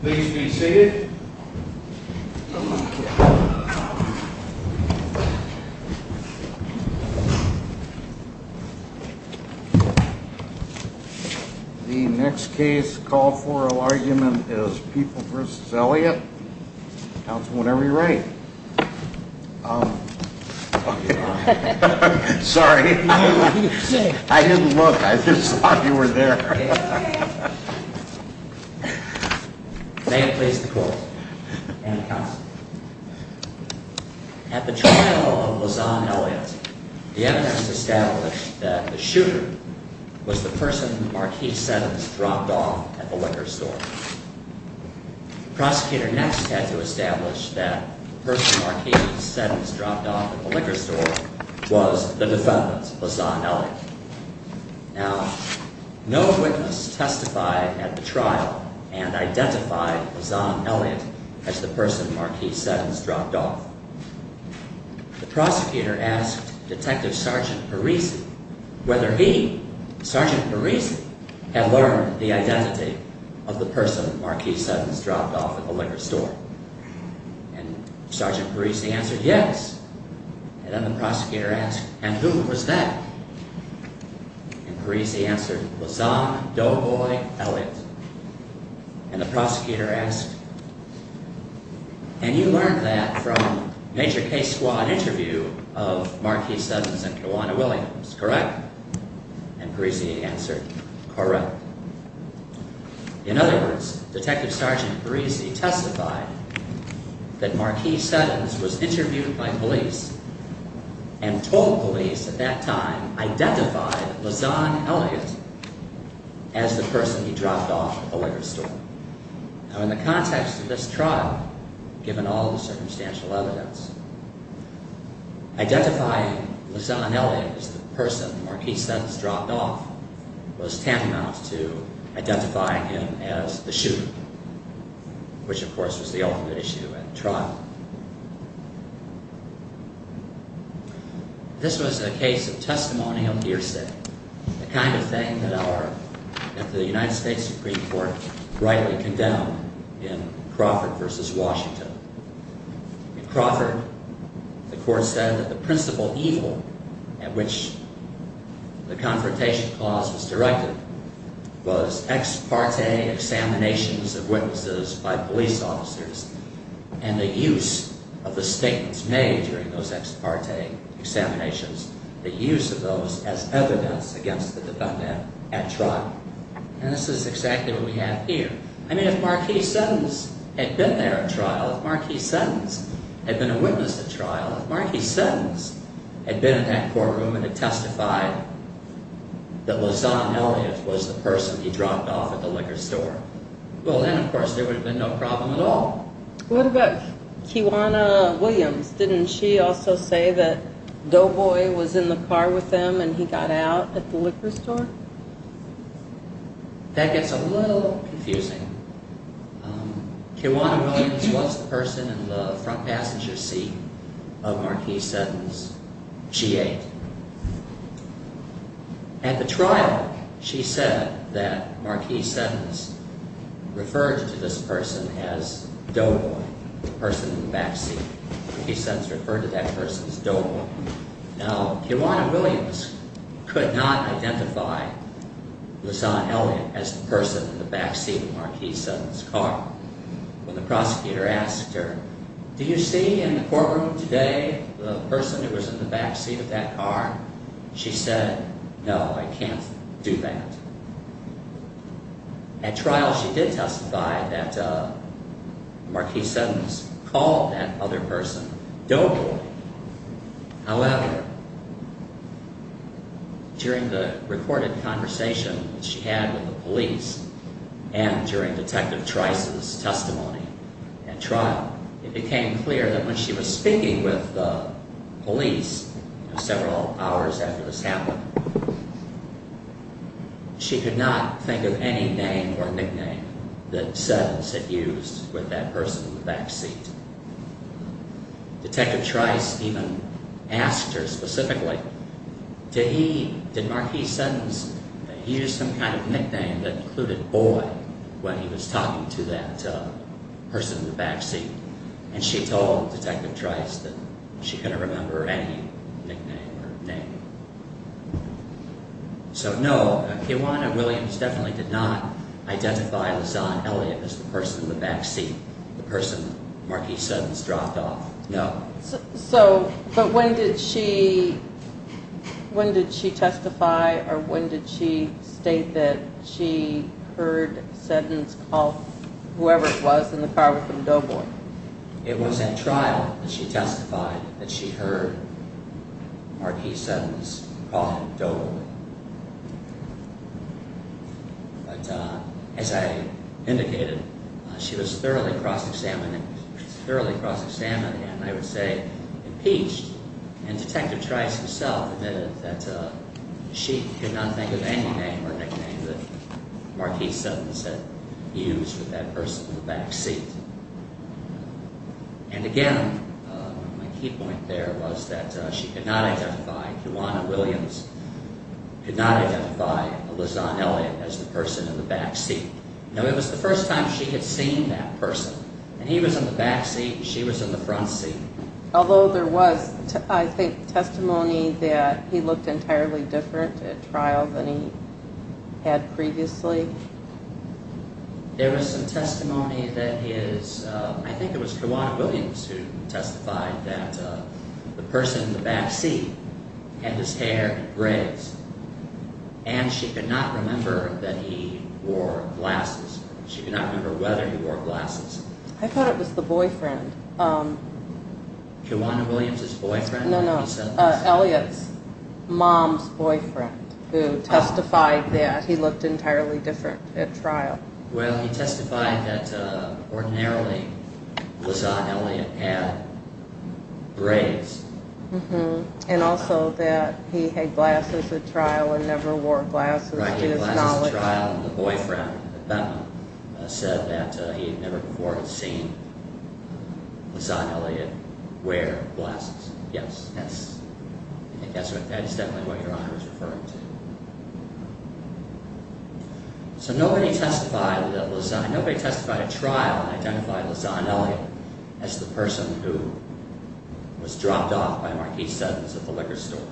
Please be seated. The next case called for argument is People v. Elliot. Counsel, whenever you're ready. Sorry. I didn't look. I just thought you were there. May it please the court. And the counsel. At the trial of LaZahn Elliot, the evidence established that the shooter was the person Marquis Seddon dropped off at the liquor store. The prosecutor next had to establish that the person Marquis Seddon dropped off at the liquor store was the defendant, LaZahn Elliot. Now, no witness testified at the trial and identified LaZahn Elliot as the person Marquis Seddon dropped off. The prosecutor asked Detective Sgt. Parisi whether he, Sgt. Parisi, had learned the identity of the person Marquis Seddon dropped off at the liquor store. And Sgt. Parisi answered yes. And then the prosecutor asked, and who was that? And Parisi answered, LaZahn Doughboy Elliot. And the prosecutor asked, and you learned that from Major K. Squaw's interview of Marquis Seddon's and Kiwana Williams, correct? And Parisi answered, correct. In other words, Detective Sgt. Parisi testified that Marquis Seddon was interviewed by police and told police at that time, identified LaZahn Elliot as the person he dropped off at the liquor store. Now, in the context of this trial, given all the circumstantial evidence, identifying LaZahn Elliot as the person Marquis Seddon dropped off was tantamount to identifying him as the shooter, which of course was the ultimate issue at the trial. This was a case of testimonial hearsay, the kind of thing that the United States Supreme Court rightly condemned in Crawford v. Washington. In Crawford, the court said that the principal evil at which the confrontation clause was directed was ex parte examinations of witnesses by police officers and the use of the statements made during those ex parte examinations, the use of those as evidence against the defendant at trial. And this is exactly what we have here. I mean, if Marquis Seddon had been there at trial, if Marquis Seddon had been a witness at trial, if Marquis Seddon had been in that courtroom and had testified that LaZahn Elliot was the person he dropped off at the liquor store, well then, of course, there would have been no problem at all. What about Kiwana Williams? Didn't she also say that Doughboy was in the car with him and he got out at the liquor store? That gets a little confusing. Kiwana Williams was the person in the front passenger seat of Marquis Seddon's G8. At the trial, she said that Marquis Seddon referred to this person as Doughboy, the person in the back seat. Marquis Seddon referred to that person as Doughboy. Now, Kiwana Williams could not identify LaZahn Elliot as the person in the back seat of Marquis Seddon's car. When the prosecutor asked her, do you see in the courtroom today the person who was in the back seat of that car? She said, no, I can't do that. At trial, she did testify that Marquis Seddon called that other person Doughboy. However, during the recorded conversation that she had with the police and during Detective Trice's testimony at trial, it became clear that when she was speaking with the police several hours after this happened, she could not think of any name or nickname that Seddon had used with that person in the back seat. Detective Trice even asked her specifically, did Marquis Seddon use some kind of nickname that included boy when he was talking to that person in the back seat? And she told Detective Trice that she couldn't remember any nickname or name. So, no, Kiwana Williams definitely did not identify LaZahn Elliot as the person in the back seat, the person Marquis Seddon's dropped off. No. So, but when did she testify or when did she state that she heard Seddon's call, whoever it was, in the car with Doughboy? It was at trial that she testified that she heard Marquis Seddon's call Doughboy. But as I indicated, she was thoroughly cross-examining, thoroughly cross-examining, and I would say impeached. And Detective Trice himself admitted that she could not think of any name or nickname that Marquis Seddon had used with that person in the back seat. And again, my key point there was that she could not identify, Kiwana Williams could not identify LaZahn Elliot as the person in the back seat. No, it was the first time she had seen that person. And he was in the back seat and she was in the front seat. Although there was, I think, testimony that he looked entirely different at trial than he had previously? There was some testimony that his, I think it was Kiwana Williams who testified that the person in the back seat had his hair in braids. And she could not remember that he wore glasses. She could not remember whether he wore glasses. I thought it was the boyfriend. Kiwana Williams' boyfriend? No, no. Elliot's mom's boyfriend who testified that he looked entirely different at trial. Well, he testified that ordinarily LaZahn Elliot had braids. And also that he had glasses at trial and never wore glasses to his knowledge. And he testified at trial that the boyfriend at Bentman said that he had never before seen LaZahn Elliot wear glasses. Yes, I think that's definitely what Your Honor is referring to. So nobody testified at LaZahn, nobody testified at trial and identified LaZahn Elliot as the person who was dropped off by Marquis Suddens at the liquor store.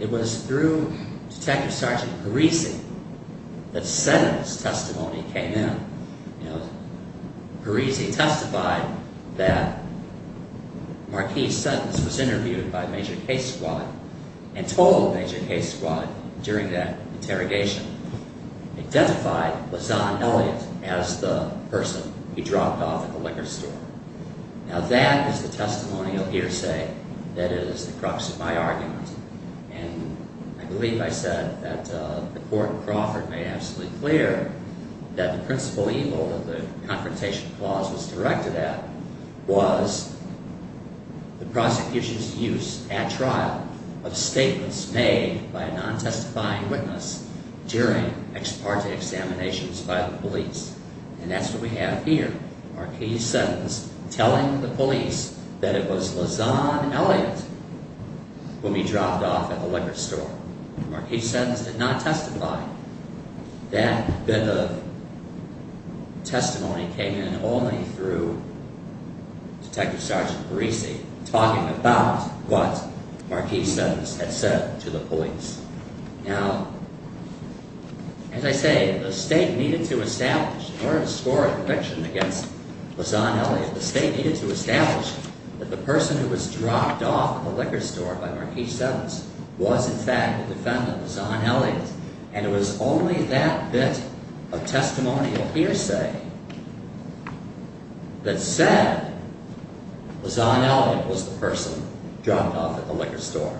It was through Detective Sergeant Parisi that Suddens' testimony came in. Parisi testified that Marquis Suddens was interviewed by Major Case Squad and told Major Case Squad during that interrogation, identified LaZahn Elliot as the person he dropped off at the liquor store. Now that is the testimonial hearsay that is the crux of my argument. And I believe I said that the court in Crawford made absolutely clear that the principal evil that the confrontation clause was directed at was the prosecution's use at trial of statements made by a non-testifying witness during ex parte examinations by the police. And that's what we have here, Marquis Suddens telling the police that it was LaZahn Elliot whom he dropped off at the liquor store. Marquis Suddens did not testify. That bit of testimony came in only through Detective Sergeant Parisi talking about what Marquis Suddens had said to the police. Now, as I say, the state needed to establish, in order to score a conviction against LaZahn Elliot, the state needed to establish that the person who was dropped off at the liquor store by Marquis Suddens was in fact the defendant, LaZahn Elliot. And it was only that bit of testimonial hearsay that said LaZahn Elliot was the person dropped off at the liquor store.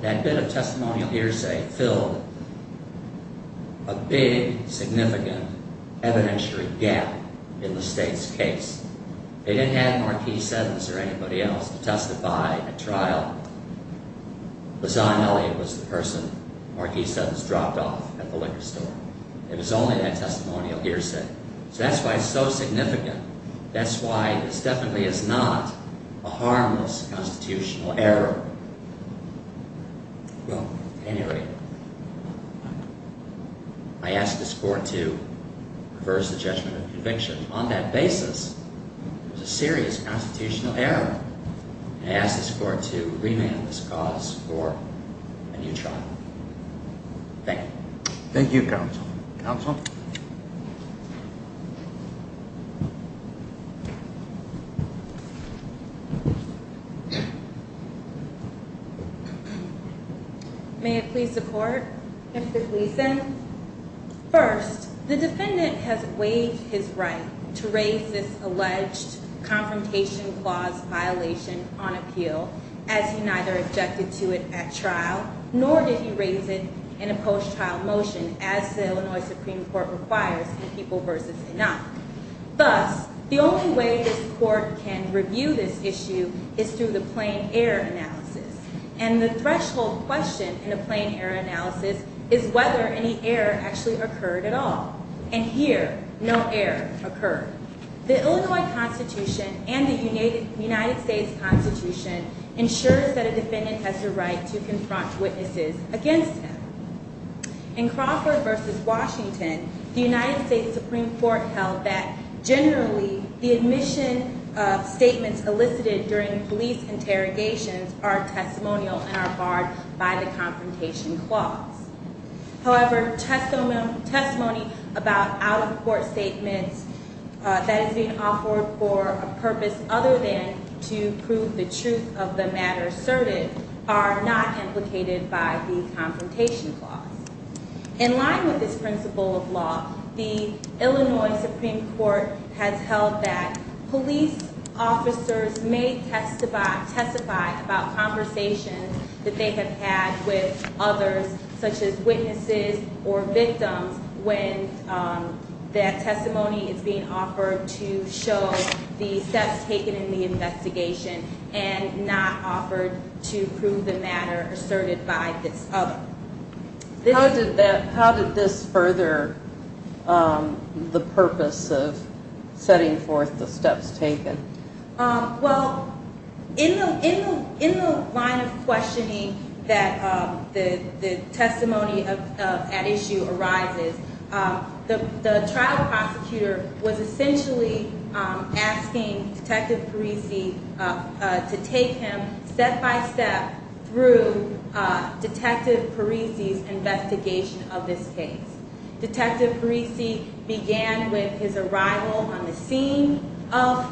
That bit of testimonial hearsay filled a big, significant evidentiary gap in the state's case. They didn't have Marquis Suddens or anybody else to testify at trial. LaZahn Elliot was the person Marquis Suddens dropped off at the liquor store. It was only that testimonial hearsay. So that's why it's so significant. That's why this definitely is not a harmless constitutional error. Well, at any rate, I ask this court to reverse the judgment of conviction. On that basis, it was a serious constitutional error. And I ask this court to remand this cause for a new trial. Thank you. Thank you, Counsel. Counsel? May it please the court? Mr. Gleeson? First, the defendant has waived his right to raise this alleged confrontation clause violation on appeal as he neither objected to it at trial, nor did he raise it in a post-trial motion as the Illinois Supreme Court requires in People v. Enoch. Thus, the only way this court can review this issue is through the plain error analysis. And the threshold question in a plain error analysis is whether any error actually occurred at all. And here, no error occurred. The Illinois Constitution and the United States Constitution ensures that a defendant has the right to confront witnesses against him. In Crawford v. Washington, the United States Supreme Court held that generally the admission statements elicited during police interrogations are testimonial and are barred by the confrontation clause. However, testimony about out-of-court statements that is being offered for a purpose other than to prove the truth of the matter asserted are not implicated by the confrontation clause. In line with this principle of law, the Illinois Supreme Court has held that police officers may testify about conversations that they have had with others, such as witnesses or victims, when that testimony is being offered to show the steps taken in the investigation and not offered to prove the matter asserted by this other. How did this further the purpose of setting forth the steps taken? Well, in the line of questioning that the testimony at issue arises, the trial prosecutor was essentially asking Detective Parisi to take him step-by-step through Detective Parisi's investigation of this case. Detective Parisi began with his arrival on the scene of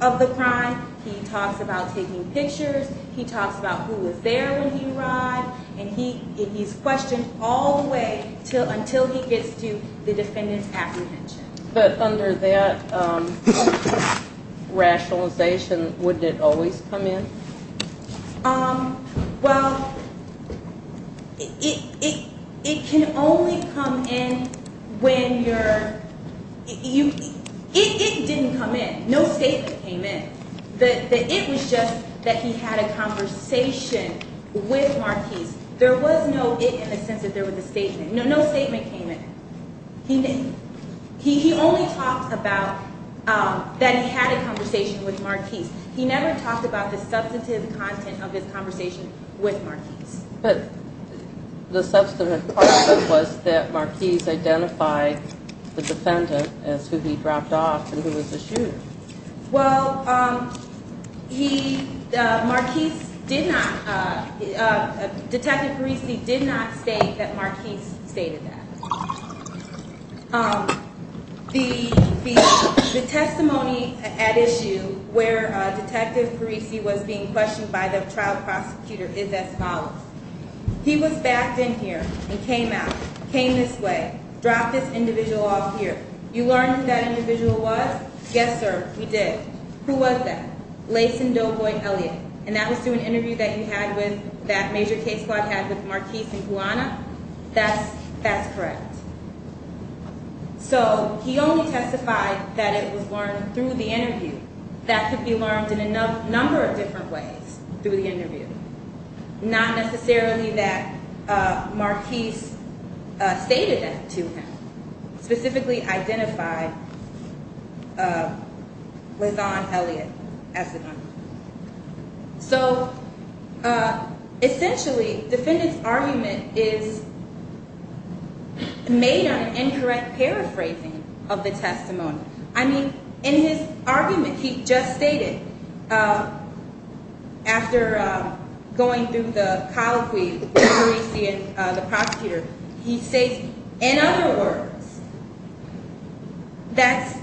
the crime. He talks about taking pictures. He talks about who was there when he arrived. And he's questioned all the way until he gets to the defendant's apprehension. But under that rationalization, wouldn't it always come in? Well, it can only come in when you're... It didn't come in. No statement came in. The it was just that he had a conversation with Marquise. There was no it in the sense that there was a statement. No statement came in. He only talked about that he had a conversation with Marquise. He never talked about the substantive content of his conversation with Marquise. But the substantive part of it was that Marquise identified the defendant as who he dropped off and who was issued. Well, he... Marquise did not... Detective Parisi did not state that Marquise stated that. The testimony at issue where Detective Parisi was being questioned by the trial prosecutor is as follows. He was backed in here and came out, came this way, dropped this individual off here. You learned who that individual was? Yes, sir, we did. Who was that? Laysen Doboy Elliott. And that was through an interview that you had with, that major case that you had with Marquise and Guana? That's correct. So he only testified that it was learned through the interview. That could be learned in a number of different ways through the interview. Not necessarily that Marquise stated that to him. Specifically identified Laysen Elliott as the gunman. So essentially, defendant's argument is made on incorrect paraphrasing of the testimony. I mean, in his argument he just stated, after going through the colloquy with Parisi and the prosecutor, he states, in other words, that's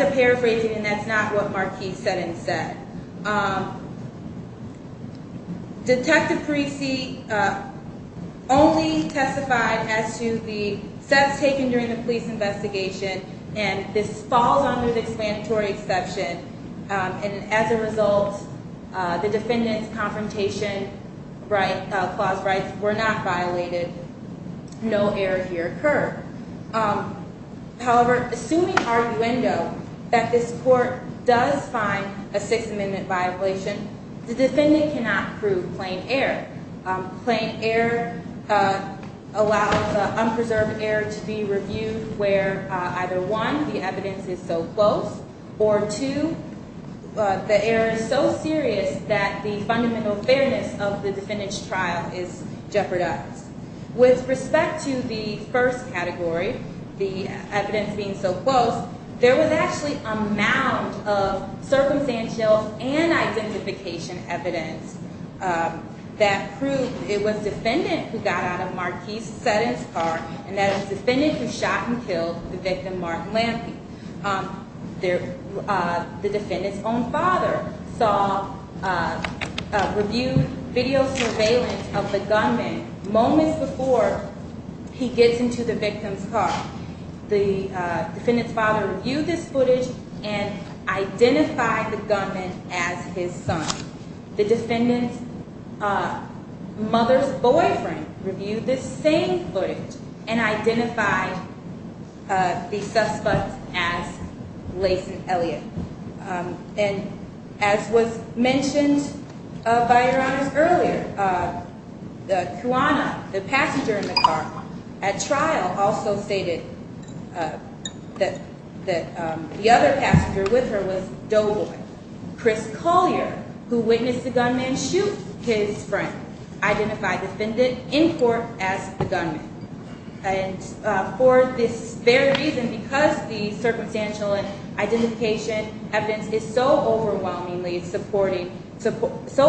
a paraphrasing and that's not what Marquise said and said. Detective Parisi only testified as to the steps taken during the police investigation and this falls under the explanatory exception. And as a result, the defendant's confrontation clause rights were not violated. No error here occurred. However, assuming arguendo that this court does find a Sixth Amendment violation, the defendant cannot prove plain error. Plain error allows unpreserved error to be reviewed where either one, the evidence is so close, or two, the error is so serious that the fundamental fairness of the defendant's trial is jeopardized. With respect to the first category, the evidence being so close, there was actually a mound of circumstantial and identification evidence that proved it was defendant who got out of Marquise's sentence car and that it was defendant who shot and killed the victim, Martin Lampley. The defendant's own father reviewed video surveillance of the gunman moments before he gets into the victim's car. The defendant's father reviewed this footage and identified the gunman as his son. The defendant's mother's boyfriend reviewed this same footage and identified the suspect as Layson Elliott. And as was mentioned by Your Honors earlier, the cuona, the passenger in the car at trial, also stated that the other passenger with her was Doboy. Chris Collier, who witnessed the gunman shoot his friend, identified the defendant in court as the gunman. And for this very reason, because the circumstantial and identification evidence is so overwhelmingly supporting, so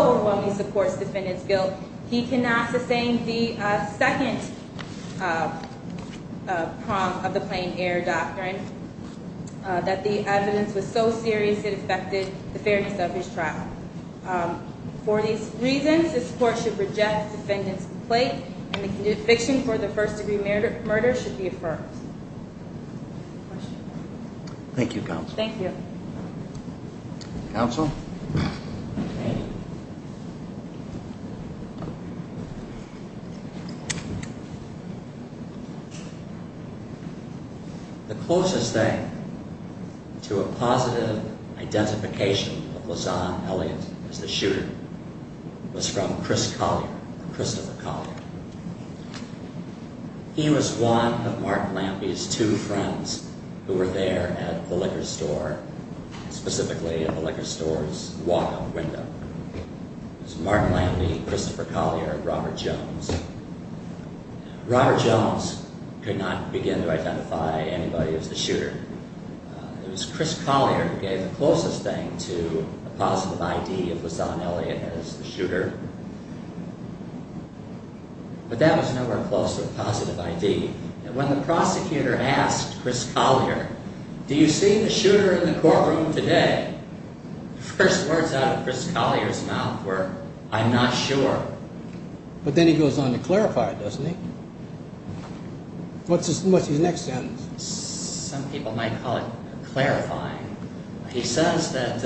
overwhelmingly supports defendant's guilt, he cannot sustain the second prong of the plain error doctrine, that the evidence was so serious it affected the fairness of his trial. For these reasons, this court should reject defendant's complaint and the conviction for the first-degree murder should be affirmed. Thank you, Counsel. Counsel? Okay. The closest thing to a positive identification of Layson Elliott as the shooter was from Chris Collier, Christopher Collier. He was one of Mark Lampe's two friends who were there at the liquor store, specifically at the liquor store's walk-in window. It was Mark Lampe, Christopher Collier, and Robert Jones. Robert Jones could not begin to identify anybody as the shooter. It was Chris Collier who gave the closest thing to a positive ID of Layson Elliott as the shooter. But that was nowhere close to a positive ID. When the prosecutor asked Chris Collier, do you see the shooter in the courtroom today, the first words out of Chris Collier's mouth were, I'm not sure. But then he goes on to clarify, doesn't he? What's his next sentence? Some people might call it clarifying. He says that,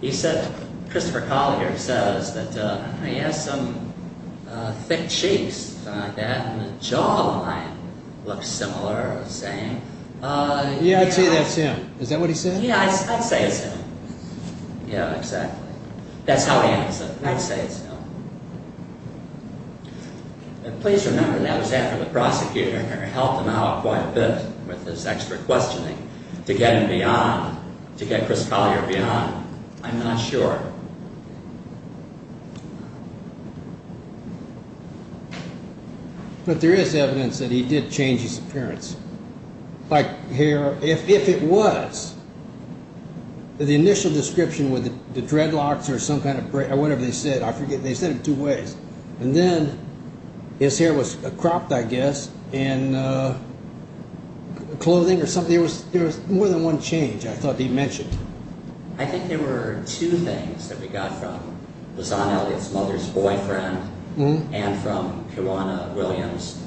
he said, Christopher Collier says that, he has some thick cheeks and the jawline looks similar or the same. Yeah, I'd say that's him. Is that what he said? Yeah, I'd say it's him. Yeah, exactly. That's how he answered. I'd say it's him. And please remember that was after the prosecutor helped him out quite a bit with his extra questioning to get him beyond, to get Chris Collier beyond, I'm not sure. But there is evidence that he did change his appearance. Like hair, if it was, the initial description with the dreadlocks or whatever they said, I forget, they said it two ways. And then his hair was cropped, I guess, and clothing or something. There was more than one change I thought he mentioned. I think there were two things that we got from Luzon Elliott's mother's boyfriend and from Kiwana Williams.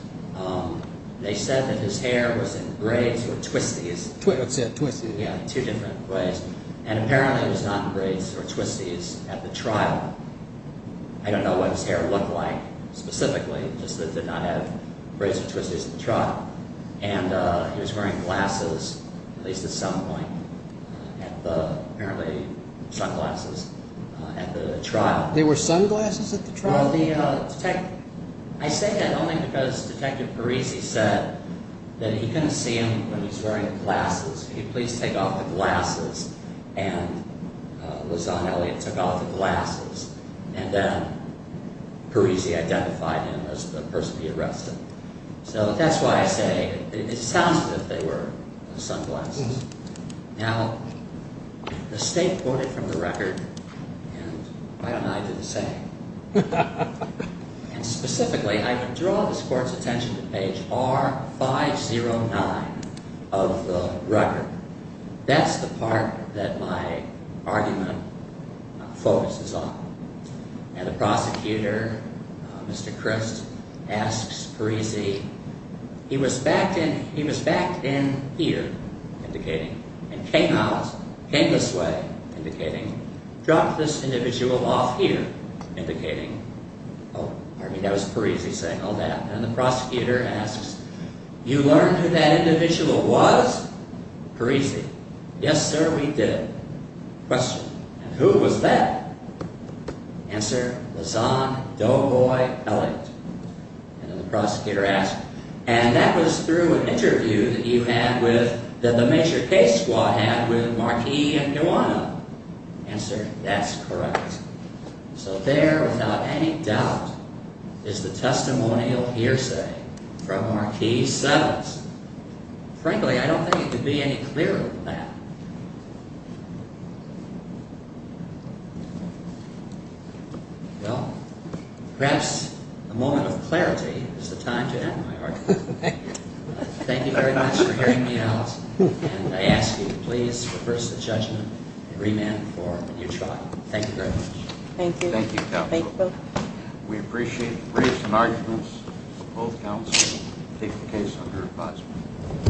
They said that his hair was in braids or twisties. I'd say twisties. Yeah, two different braids. And apparently it was not in braids or twisties at the trial. I don't know what his hair looked like specifically, just that it did not have braids or twisties at the trial. And he was wearing glasses, at least at some point, and apparently sunglasses at the trial. There were sunglasses at the trial? I say that only because Detective Parisi said that he couldn't see him when he was wearing glasses. He said, please take off the glasses. And Luzon Elliott took off the glasses. And then Parisi identified him as the person he arrested. So that's why I say it sounds as if they were sunglasses. Now, the State quoted from the record, and why don't I do the same? And specifically, I would draw this Court's attention to page R509 of the record. That's the part that my argument focuses on. And the prosecutor, Mr. Crist, asks Parisi, he was backed in here, indicating, and came out, came this way, indicating, dropped this individual off here, indicating. Oh, I mean, that was Parisi saying all that. And the prosecutor asks, you learned who that individual was? Parisi, yes, sir, we did. Question, and who was that? Answer, Luzon Doboy Elliott. And then the prosecutor asks, and that was through an interview that you had with, that the major case squad had with Marquis and Nuano. Answer, that's correct. So there, without any doubt, is the testimonial hearsay from Marquis' sentence. Frankly, I don't think it could be any clearer than that. Well, perhaps a moment of clarity is the time to end my argument. Thank you. Thank you very much for hearing me out, and I ask you to please reverse the judgment and remand the forum when you try. Thank you very much. Thank you. Thank you, counsel. We appreciate the briefs and arguments. Both counsels will take the case under advisement.